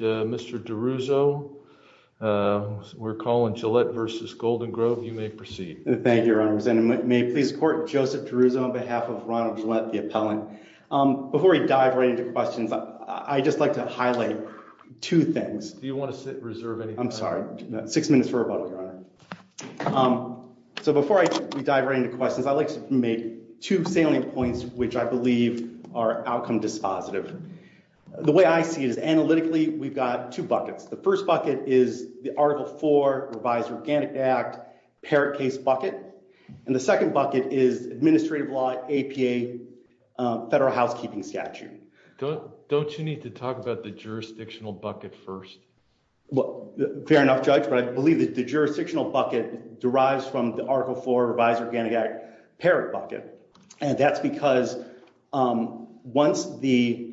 Mr. DeRuzo. We're calling Gillette v. Golden Grove. You may proceed. Thank you, Your Honor. May I please court Joseph DeRuzo on behalf of Ronald Gillette, the appellant. Before we dive right into questions, I'd just like to highlight two things. Do you want to reserve any time? I'm sorry. Six minutes for rebuttal, Your Honor. So before we dive right into questions, I'd like to make two salient points which I believe are outcome dispositive. The way I see it is analytically, we've got two buckets. The first bucket is the Article IV Revised Organic Act Parrot Case Bucket, and the second bucket is Administrative Law APA Federal Housekeeping Statute. Don't you need to talk about the jurisdictional bucket first? Well, fair enough, Judge, but I believe that the jurisdictional bucket derives from the Article IV Revised Organic Act Parrot Bucket, and that's because once the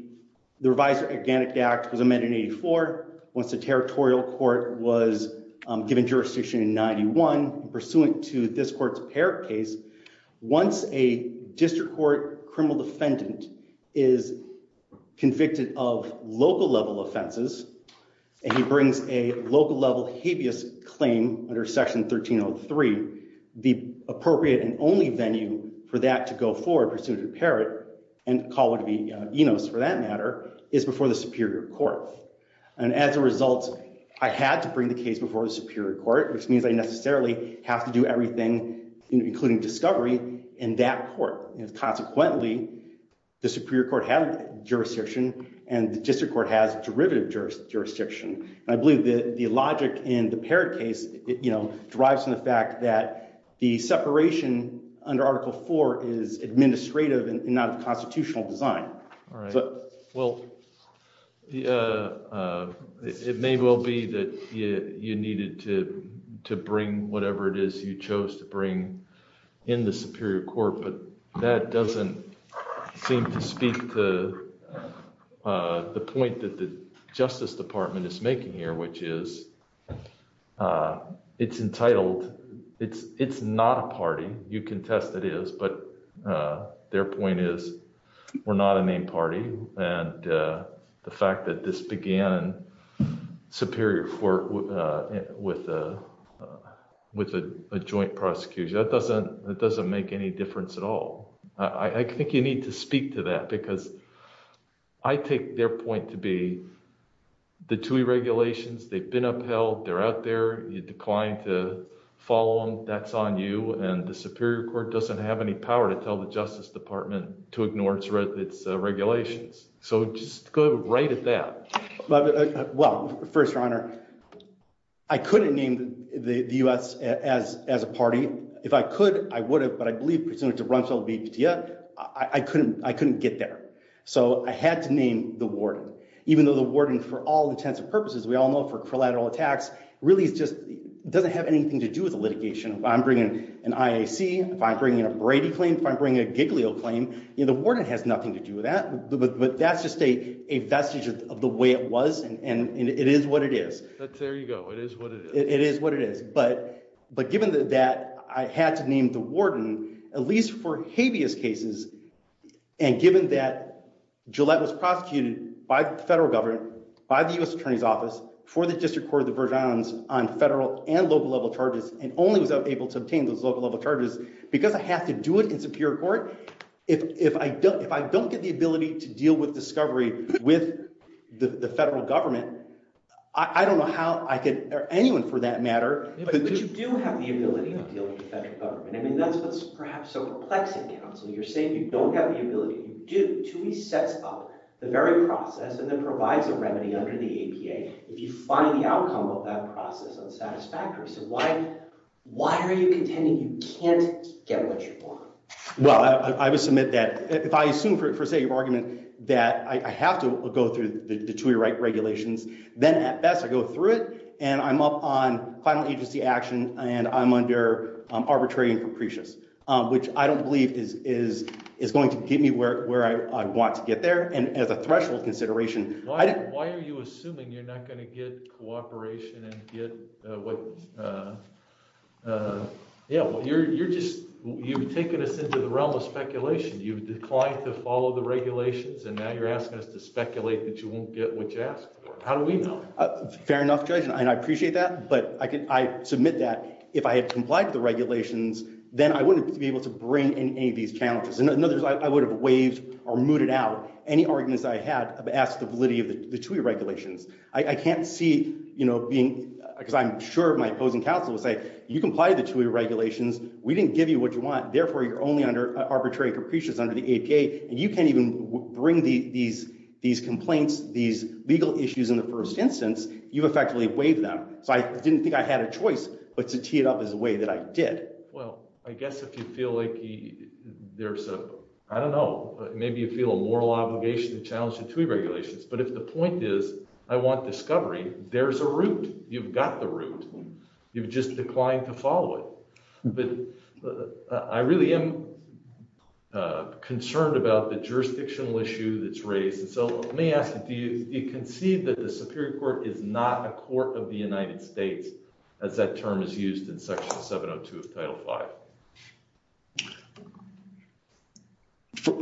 Revised Organic Act was amended in 84, once the territorial court was given jurisdiction in 91, pursuant to this court's parrot case, once a district court criminal defendant is in Section 1303, the appropriate and only venue for that to go forward, pursuant to the parrot, and to call what would be ENOS for that matter, is before the superior court. And as a result, I had to bring the case before the superior court, which means I necessarily have to do everything, including discovery, in that court. Consequently, the superior court has jurisdiction, and the district court has derivative jurisdiction. I believe that the logic in the parrot case, derives from the fact that the separation under Article IV is administrative and not a constitutional design. All right. Well, it may well be that you needed to bring whatever it is you chose to bring in the superior court, but that doesn't seem to speak to the point that the it's not a party. You can test it is, but their point is, we're not a main party, and the fact that this began in superior court with a joint prosecution, that doesn't make any difference at all. I think you need to speak to that, because I take their point to be the TUI regulations, they've been upheld, they're out there, you decline to follow them, that's on you, and the superior court doesn't have any power to tell the Justice Department to ignore its regulations. So just go right at that. Well, first, your honor, I couldn't name the U.S. as a party. If I could, I would have, but I believe, presumably, to run for VPTA, I couldn't get there. So I had to name the warden, even though the warden, for all intents and purposes, doesn't have anything to do with the litigation. If I'm bringing an IAC, if I'm bringing a Brady claim, if I'm bringing a Giglio claim, the warden has nothing to do with that, but that's just a vestige of the way it was, and it is what it is. But there you go, it is what it is. It is what it is. But given that, I had to name the warden, at least for habeas cases, and given that Gillette was prosecuted by the federal government, by the U.S. Attorney's Office, for the District Court of the Virgin Islands, on federal and local level charges, and only was I able to obtain those local level charges, because I have to do it in Superior Court, if I don't get the ability to deal with discovery with the federal government, I don't know how I could, or anyone for that matter... But you do have the ability to deal with the federal government. I mean, that's what's perhaps so perplexing, counsel. You're saying you don't have the ability. TUI sets up the very process and then provides a remedy under the APA if you find the outcome of that process unsatisfactory. So why are you contending you can't get what you want? Well, I would submit that, if I assume for sake of argument that I have to go through the TUI regulations, then at best I go through it, and I'm up on final agency action, and I'm under arbitrary and capricious, which I don't believe is going to get me where I want to get there, and as a threshold consideration... Why are you assuming you're not going to get cooperation and get what... Yeah, well, you're just... You've taken us into the realm of speculation. You've declined to follow the regulations, and now you're asking us to speculate that you won't get what you asked for. How do we know? Fair enough, Judge, and I appreciate that, but I submit that, if I had complied with the regulations, then I wouldn't be able to bring in any of these challenges. In other words, I would have waived or mooted out any arguments I had as to the validity of the TUI regulations. I can't see being... Because I'm sure my opposing counsel would say, you complied with the TUI regulations, we didn't give you what you want, therefore you're only under arbitrary and capricious under the APA, and you can't even bring these complaints, these legal issues in the first instance, you effectively waived them. So I didn't think I had a choice but to tee it up as a way that I did. Well, I guess if you feel like there's a... I don't know, maybe you feel a moral obligation to challenge the TUI regulations, but if the point is, I want discovery, there's a route. You've got the route, you've just declined to follow it. But I really am concerned about the jurisdictional issue that's raised, and so let me ask you, do you concede that the Superior Court is not a court of the United States, as that term is used in Section 702 of Title V?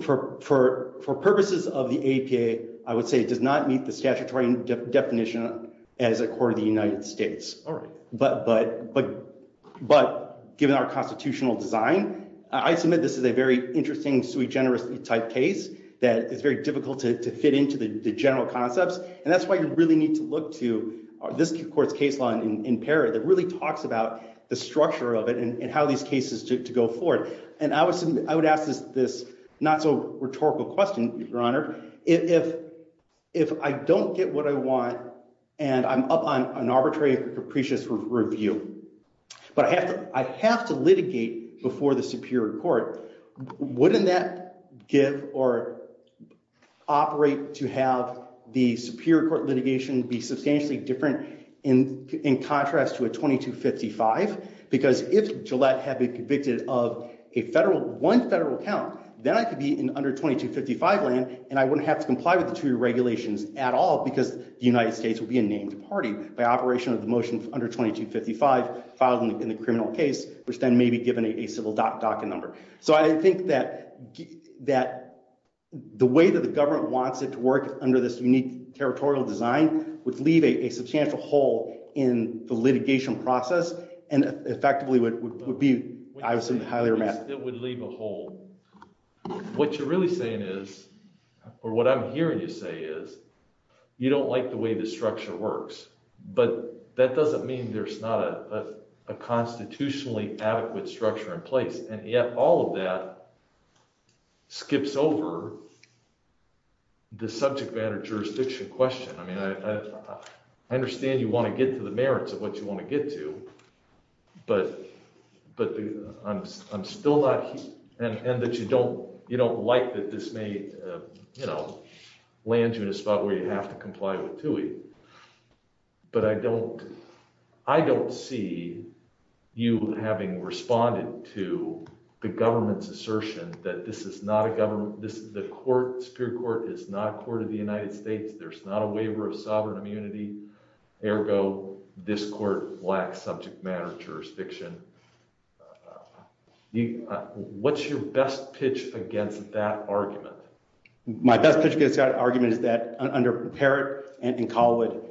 For purposes of the APA, I would say it does not meet the statutory definition as a court of the United States. But given our constitutional design, I submit this is a very interesting, sui generis type case that is very difficult to fit into the general concepts, and that's why you really need to look to this court's case law in PARA that really talks about the structure of it and how these cases to go forward. And I would ask this not-so-rhetorical question, Your Honor, if I don't get what I want and I'm up on an arbitrary, capricious review, but I have to litigate before the Superior Court, wouldn't that give or operate to have the Superior Court litigation be substantially different in contrast to a 2255? Because if Gillette had been convicted of one federal count, then I could be in under 2255 land and I wouldn't have to comply with the two regulations at all because the United States would be a named party by operation of the motion under 2255 filed in the criminal case, which then may be given a civil docket number. So I think that the way that the government wants it to work under this unique territorial design would leave a substantial hole in the litigation process and effectively would be, I assume, highly remanded. It would leave a hole. What you're really saying is, or what I'm hearing you say is, you don't like the way the structure works. But that doesn't mean there's not a constitutionally adequate structure in place. And yet all of that skips over the subject matter jurisdiction question. I mean, I understand you want to get to the merits of what you want to get to, but I'm still not, and that you don't like that this may land you in a spot where you have to comply with TUI. But I don't see you having responded to the government's assertion that is not a government, the court, Superior Court, is not a court of the United States. There's not a waiver of sovereign immunity. Ergo, this court lacks subject matter jurisdiction. What's your best pitch against that argument? My best pitch against that argument is that under Parrott and Collwood,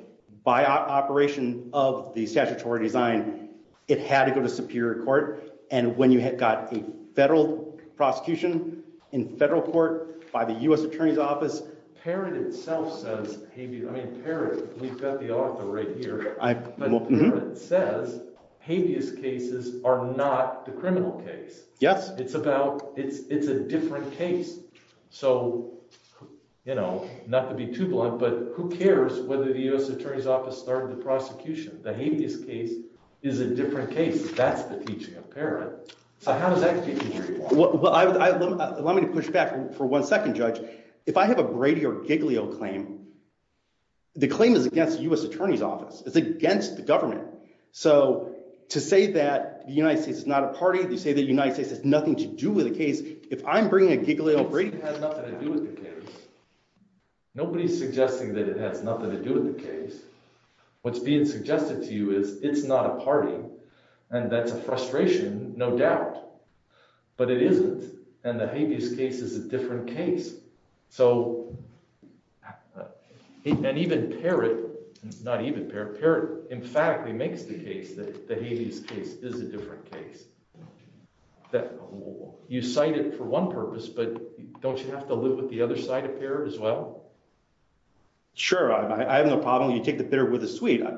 by operation of the statutory design, it had to go to Superior Court. And when you had got a federal prosecution in federal court by the U.S. Attorney's Office, Parrott itself says, I mean, Parrott, we've got the author right here, but Parrott says habeas cases are not the criminal case. Yes. It's about, it's a different case. So, you know, not to be too blunt, but who cares whether the U.S. Attorney's Office started the prosecution? The habeas case is a different case. That's the teaching of Parrott. So, how does that contribute? Well, allow me to push back for one second, Judge. If I have a Brady or Giglio claim, the claim is against the U.S. Attorney's Office. It's against the government. So, to say that the United States is not a party, to say that the United States has nothing to do with the case, if I'm bringing a Giglio, Brady... It has nothing to do with the case. Nobody's suggesting that it has nothing to do with the case. What's being suggested to you is it's not a party, and that's a frustration, no doubt. But it isn't, and the habeas case is a different case. So, and even Parrott, not even Parrott, Parrott emphatically makes the case that the habeas case is a different case. You cite it for one purpose, but don't you have to live with the other side of Parrott as well? Sure. I have no problem. You take the bitter with the sweet. I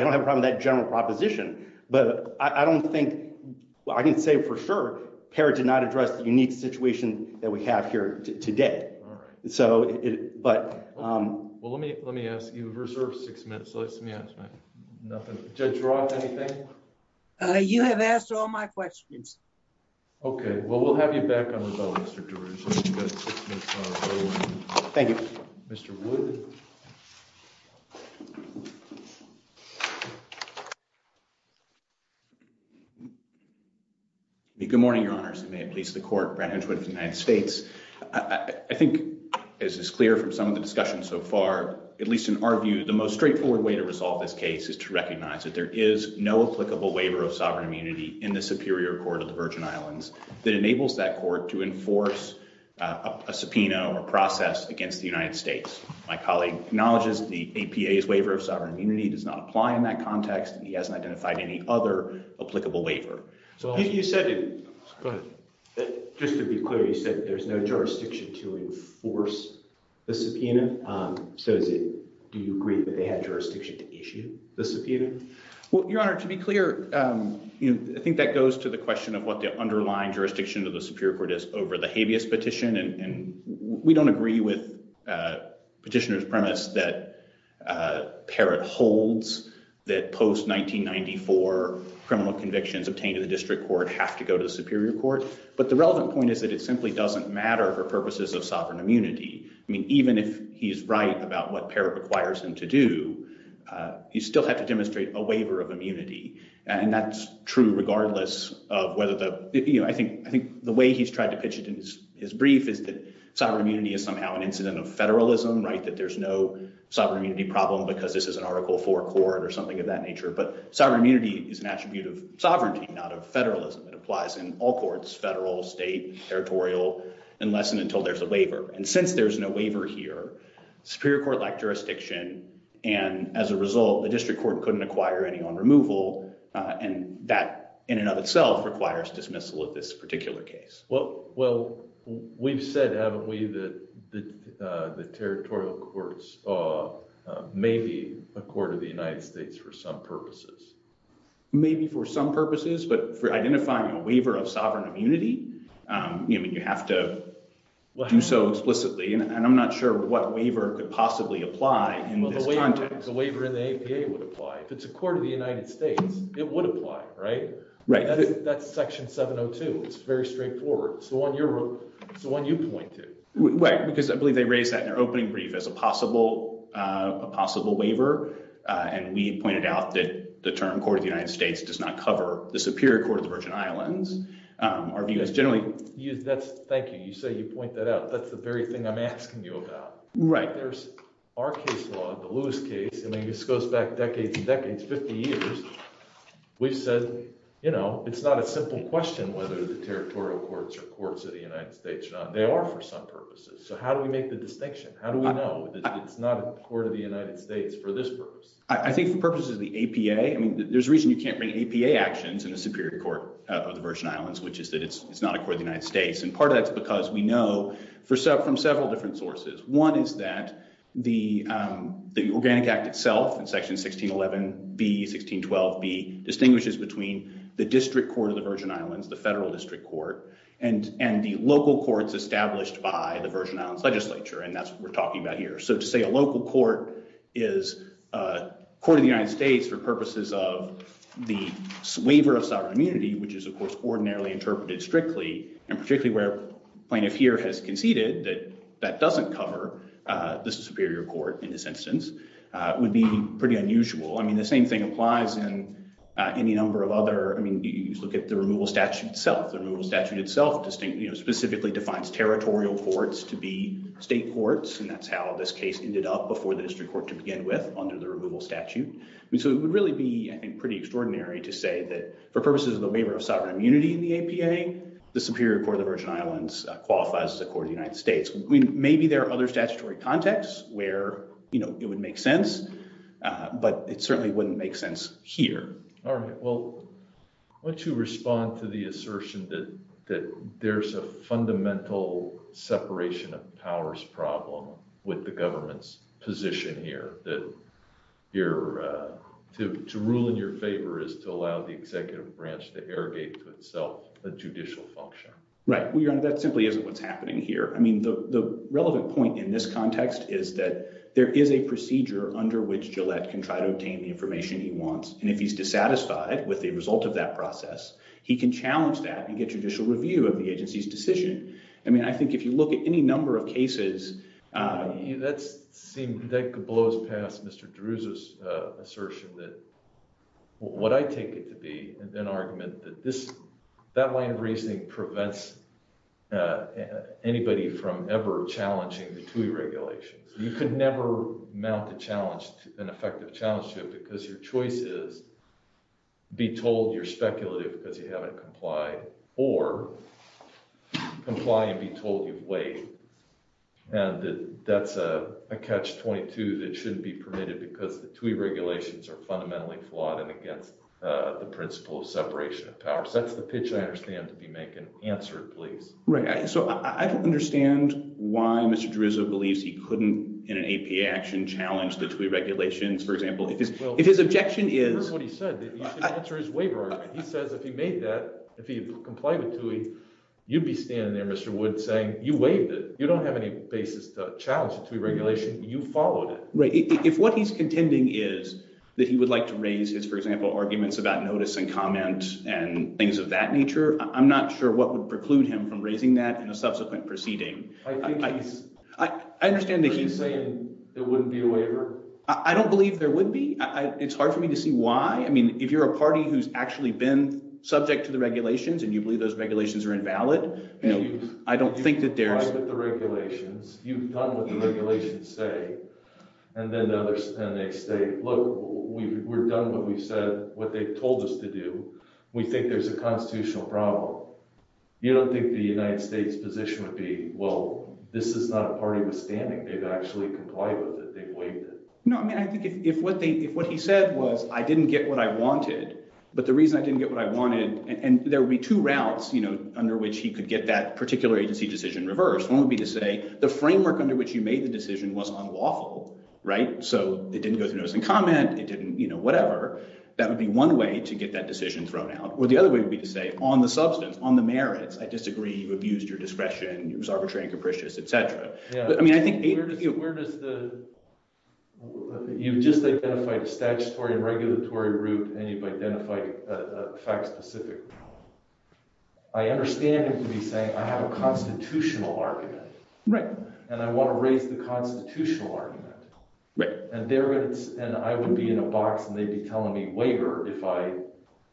don't have a problem with that general proposition, but I don't think... Well, I can say for sure, Parrott did not address the unique situation that we have here today. All right. So, but... Well, let me ask you. We've reserved six minutes. Let me ask my... Nothing. Judge Roth, anything? You have asked all my questions. Okay. Well, we'll have you back on the phone, Mr. DeRouge. Thank you. Mr. Wood. Good morning, Your Honors, and may it please the Court, Brad Hedgewood of the United States. I think, as is clear from some of the discussion so far, at least in our view, the most straightforward way to resolve this case is to recognize that there is no applicable waiver of sovereign immunity that enables that court to enforce a subpoena or process against the United States. My colleague acknowledges the APA's waiver of sovereign immunity does not apply in that context, and he hasn't identified any other applicable waiver. You said... Go ahead. Just to be clear, you said there's no jurisdiction to enforce the subpoena. So, do you agree that they had jurisdiction to issue the subpoena? Well, Your Honor, to be clear, I think that goes to the question of what the underlying jurisdiction of the Superior Court is over the habeas petition, and we don't agree with Petitioner's premise that Parrott holds that post-1994 criminal convictions obtained in the District Court have to go to the Superior Court, but the relevant point is that it simply doesn't matter for purposes of sovereign immunity. I mean, even if he's right about what Parrott requires him to do, you still have to demonstrate a waiver of immunity, and that's true regardless of whether the... I think the way he's tried to pitch it in his brief is that sovereign immunity is somehow an incident of federalism, that there's no sovereign immunity problem because this is an Article IV court or something of that nature, but sovereign immunity is an attribute of sovereignty, not of federalism. It applies in all courts, federal, state, territorial, unless and until there's a waiver, and since there's no waiver here, Superior Court-like as a result, the District Court couldn't acquire any on removal, and that in and of itself requires dismissal of this particular case. Well, we've said, haven't we, that the territorial courts may be a court of the United States for some purposes. Maybe for some purposes, but for identifying a waiver of sovereign immunity, you have to do so explicitly, and I'm not sure what waiver could possibly apply in this context. A waiver in the APA would apply. If it's a court of the United States, it would apply, right? Right. That's Section 702. It's very straightforward. It's the one you pointed. Because I believe they raised that in their opening brief as a possible waiver, and we pointed out that the term court of the United States does not cover the Superior Court of the Virgin Islands. Our view is generally... Thank you. You say you point that out. That's the very thing I'm asking you about. Right. Our case law, the Lewis case, and this goes back decades and decades, 50 years, we've said it's not a simple question whether the territorial courts are courts of the United States or not. They are for some purposes. So how do we make the distinction? How do we know that it's not a court of the United States for this purpose? I think the purpose is the APA. There's a reason you can't bring APA actions in the Superior Court of the Virgin Islands, which is that it's not a court of the United States, and part of that's because we know from several different sources. One is that the Organic Act itself in Section 1611B, 1612B distinguishes between the district court of the Virgin Islands, the federal district court, and the local courts established by the Virgin Islands legislature, and that's what we're talking about here. So to say a local court is a court of the United States for purposes of the waiver of sovereign immunity, which is, of course, interpreted strictly and particularly where plaintiff here has conceded that that doesn't cover the Superior Court in this instance, would be pretty unusual. I mean, the same thing applies in any number of other, I mean, you look at the removal statute itself. The removal statute itself specifically defines territorial courts to be state courts, and that's how this case ended up before the district court to begin with under the removal statute. So it would really be, pretty extraordinary to say that for purposes of the waiver of sovereign immunity in the APA, the Superior Court of the Virgin Islands qualifies as a court of the United States. Maybe there are other statutory contexts where, you know, it would make sense, but it certainly wouldn't make sense here. All right, well, why don't you respond to the assertion that there's a fundamental separation of powers problem with the government's position here, that to rule in your favor is to allow the executive branch to irrigate to itself a judicial function. Right, well, Your Honor, that simply isn't what's happening here. I mean, the relevant point in this context is that there is a procedure under which Gillette can try to obtain the information he wants, and if he's dissatisfied with the result of that process, he can challenge that and get judicial review of the agency's decision. I mean, I think if you look at any number of cases, that could blow past Mr. Drew's assertion that, what I take it to be, an argument that that line of reasoning prevents anybody from ever challenging the TUI regulations. You could never mount an effective challenge to it because your choice is be told you're And that's a catch-22 that shouldn't be permitted because the TUI regulations are fundamentally flawed and against the principle of separation of powers. That's the pitch I understand to be making. Answer it, please. Right, so I don't understand why Mr. Drizzo believes he couldn't, in an APA action, challenge the TUI regulations. For example, if his objection is... That's what he said, that he should answer his waiver argument. He says if he made that, if he complied with TUI, you'd be standing there, Mr. Wood, saying you waived it. You don't have any basis to challenge the TUI regulation. You followed it. Right, if what he's contending is that he would like to raise his, for example, arguments about notice and comment and things of that nature, I'm not sure what would preclude him from raising that in a subsequent proceeding. I understand that he's saying it wouldn't be a waiver. I don't believe there would be. It's hard for me to see why. I mean, if you're a party who's actually been subject to the regulations and you believe those regulations are invalid, I don't think that there's... You've tried with the regulations. You've done what the regulations say. And then they say, look, we've done what they've told us to do. We think there's a constitutional problem. You don't think the United States position would be, well, this is not a party withstanding. They've actually complied with it. They've waived it. No, I mean, I think if what he said was I didn't get what I wanted, but the reason I didn't get what I wanted, and there would be two routes under which he could get that particular agency decision reversed. One would be to say the framework under which you made the decision was unlawful, right? So it didn't go through notice and comment. It didn't, whatever. That would be one way to get that decision thrown out. Or the other way would be to say on the substance, on the merits, I disagree. You abused your discretion. It was arbitrary and capricious, et cetera. But I mean, I think- You've just identified a statutory and regulatory route, and you've identified a fact-specific problem. I understand him to be saying, I have a constitutional argument. Right. And I want to raise the constitutional argument. Right. And I would be in a box, and they'd be telling me waiver if I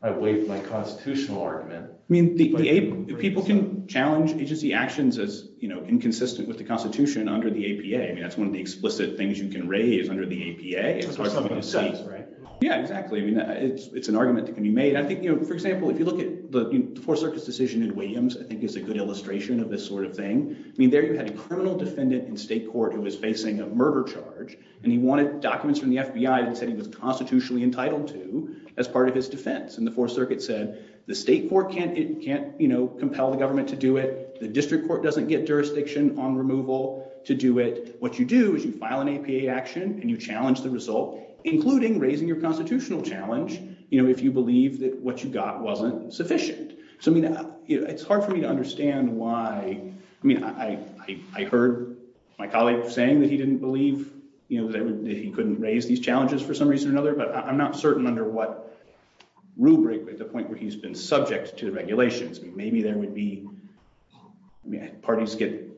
waived my constitutional argument. I mean, people can challenge agency actions as inconsistent with the constitution under the APA. I mean, that's one of the explicit things you can raise under the APA. Yeah, exactly. I mean, it's an argument that can be made. I think, for example, if you look at the Fourth Circuit's decision in Williams, I think is a good illustration of this sort of thing. I mean, there you had a criminal defendant in state court who was facing a murder charge, and he wanted documents from the FBI that said he was constitutionally entitled to as part of his defense. And the Fourth Circuit said, the state court can't compel the government to do it. The district court doesn't get jurisdiction on removal to do it. What you do is you file an APA action, and you challenge the result, including raising your constitutional challenge if you believe that what you got wasn't sufficient. So I mean, it's hard for me to understand why- I mean, I heard my colleague saying that he didn't believe that he couldn't raise these challenges for some reason or another, but I'm not certain under what rubric at the point where he's been subject to the regulations. Maybe there would be- I mean, parties get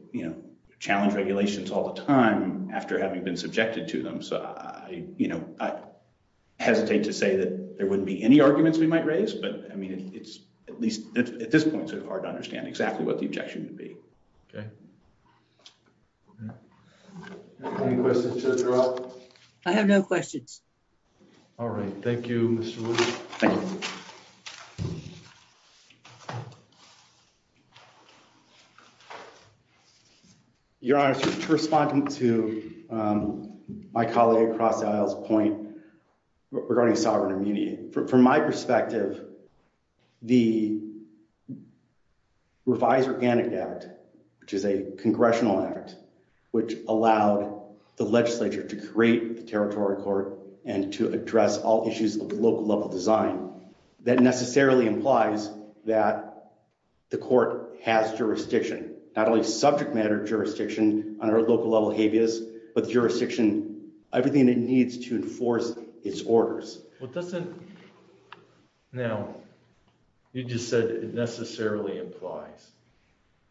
challenged regulations all the time after having been subjected to them. So I hesitate to say that there wouldn't be any arguments we might raise, but I mean, it's at least at this point sort of hard to understand exactly what the objection would be. Okay. Any questions to the committee? I have no questions. All right. Thank you, Mr. Wood. Thank you. Your Honor, to respond to my colleague Cross Isle's point regarding sovereign immunity, from my perspective, the revised Organic Act, which is a congressional act, which allowed the legislature to create the Territory Court and to address all issues of local level design, that necessarily implies that the court has jurisdiction, not only subject matter jurisdiction on our local level habeas, but jurisdiction- everything it needs to enforce its orders. What doesn't- now, you just said it necessarily implies.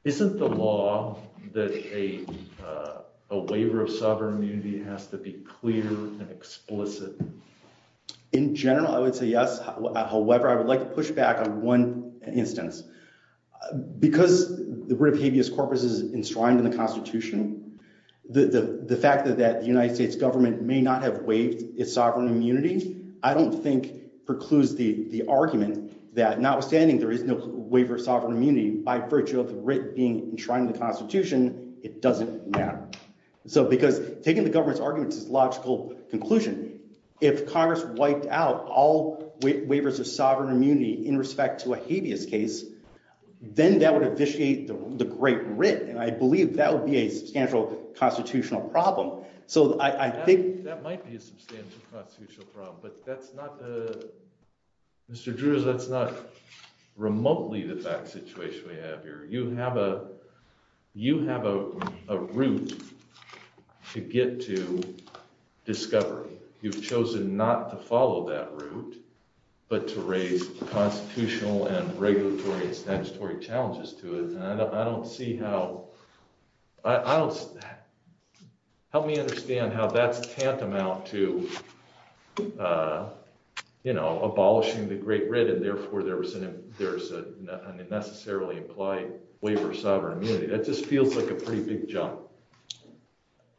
Isn't the law that a waiver of sovereign immunity has to be clear and explicit? In general, I would say yes. However, I would like to push back on one instance. Because the writ of habeas corpus is enshrined in the Constitution, the fact that the United States government may not have waived its sovereign immunity, I don't think precludes the argument that notwithstanding there is no waiver of sovereign immunity. Because taking the government's arguments is a logical conclusion. If Congress wiped out all waivers of sovereign immunity in respect to a habeas case, then that would officiate the Great Writ, and I believe that would be a substantial constitutional problem. So I think- That might be a substantial constitutional problem, but that's not- Mr. Drews, that's not remotely the back situation we have here. You have a route to get to discovery. You've chosen not to follow that route, but to raise constitutional and regulatory and statutory challenges to it. And I don't see how- I don't- help me understand how that's tantamount to, you know, abolishing the Great Writ, and therefore there was an- there's a necessarily implied waiver of sovereign immunity. That just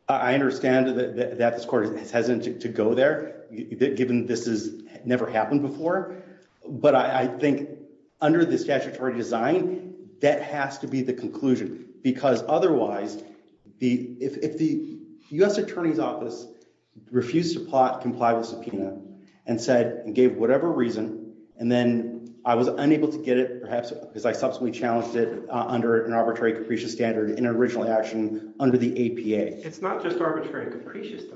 I understand that this court is hesitant to go there, given this has never happened before. But I think under the statutory design, that has to be the conclusion. Because otherwise, if the U.S. Attorney's Office refused to comply with the subpoena and said- and gave whatever reason, and then I was unable to get it, perhaps because I subsequently challenged it under an arbitrary and capricious bill.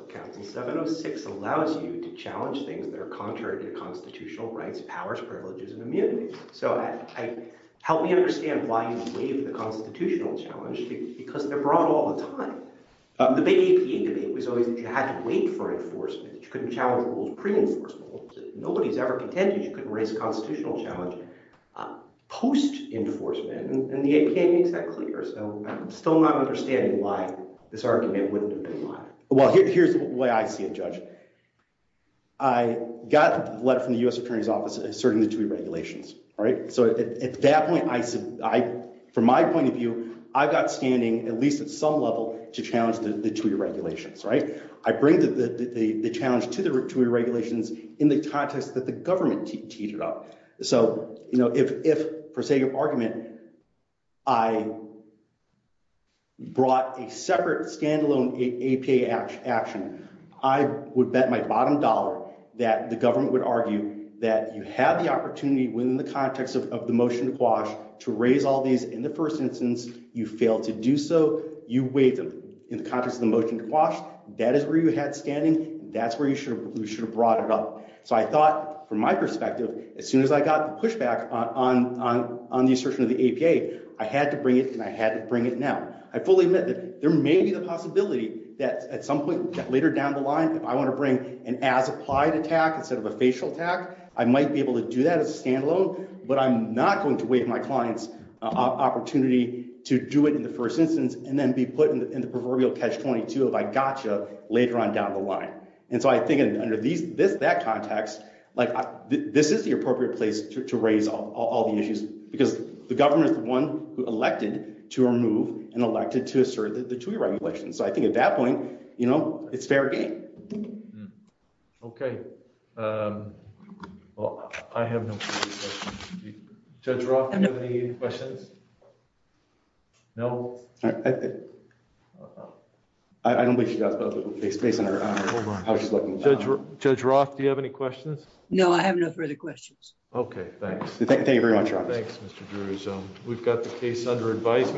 Council 706 allows you to challenge things that are contrary to constitutional rights, powers, privileges, and immunity. So I- help me understand why you waive the constitutional challenge, because they're brought all the time. The big APA debate was always that you had to wait for enforcement. You couldn't challenge rules pre-enforcement. Nobody's ever contended you couldn't raise a constitutional challenge post-enforcement, and the APA makes that clear. So I'm still not understanding why this argument wouldn't comply. Well, here's the way I see it, Judge. I got a letter from the U.S. Attorney's Office asserting the two-year regulations, right? So at that point, I- from my point of view, I got standing, at least at some level, to challenge the two-year regulations, right? I bring the challenge to the two-year regulations in the context that the government teetered up. So, you know, if, per se, your argument, I assume, brought a separate, standalone APA action, I would bet my bottom dollar that the government would argue that you have the opportunity, within the context of the motion to quash, to raise all these in the first instance. You failed to do so. You waived them in the context of the motion to quash. That is where you had standing. That's where you should have brought it up. So I thought, from my perspective, as soon as I got the pushback on the assertion of APA, I had to bring it, and I had to bring it now. I fully admit that there may be the possibility that, at some point, later down the line, if I want to bring an as-applied attack instead of a facial attack, I might be able to do that as a standalone, but I'm not going to waive my client's opportunity to do it in the first instance, and then be put in the proverbial catch-22 of, I gotcha, later on down the line. And so I think, under that context, this is the appropriate place to raise all the issues, because the government is the one who elected to remove and elected to assert the TUI regulations. So I think, at that point, it's fair to ask. I have no further questions. Okay. Well, I have no further questions. Judge Roth, do you have any questions? No? I don't think she has a lot of space on her. Judge Roth, do you have any questions? No, I have no further questions. Okay. Thanks. Thank you very much. Thank you, Mr. Drew. We've got the case under advice.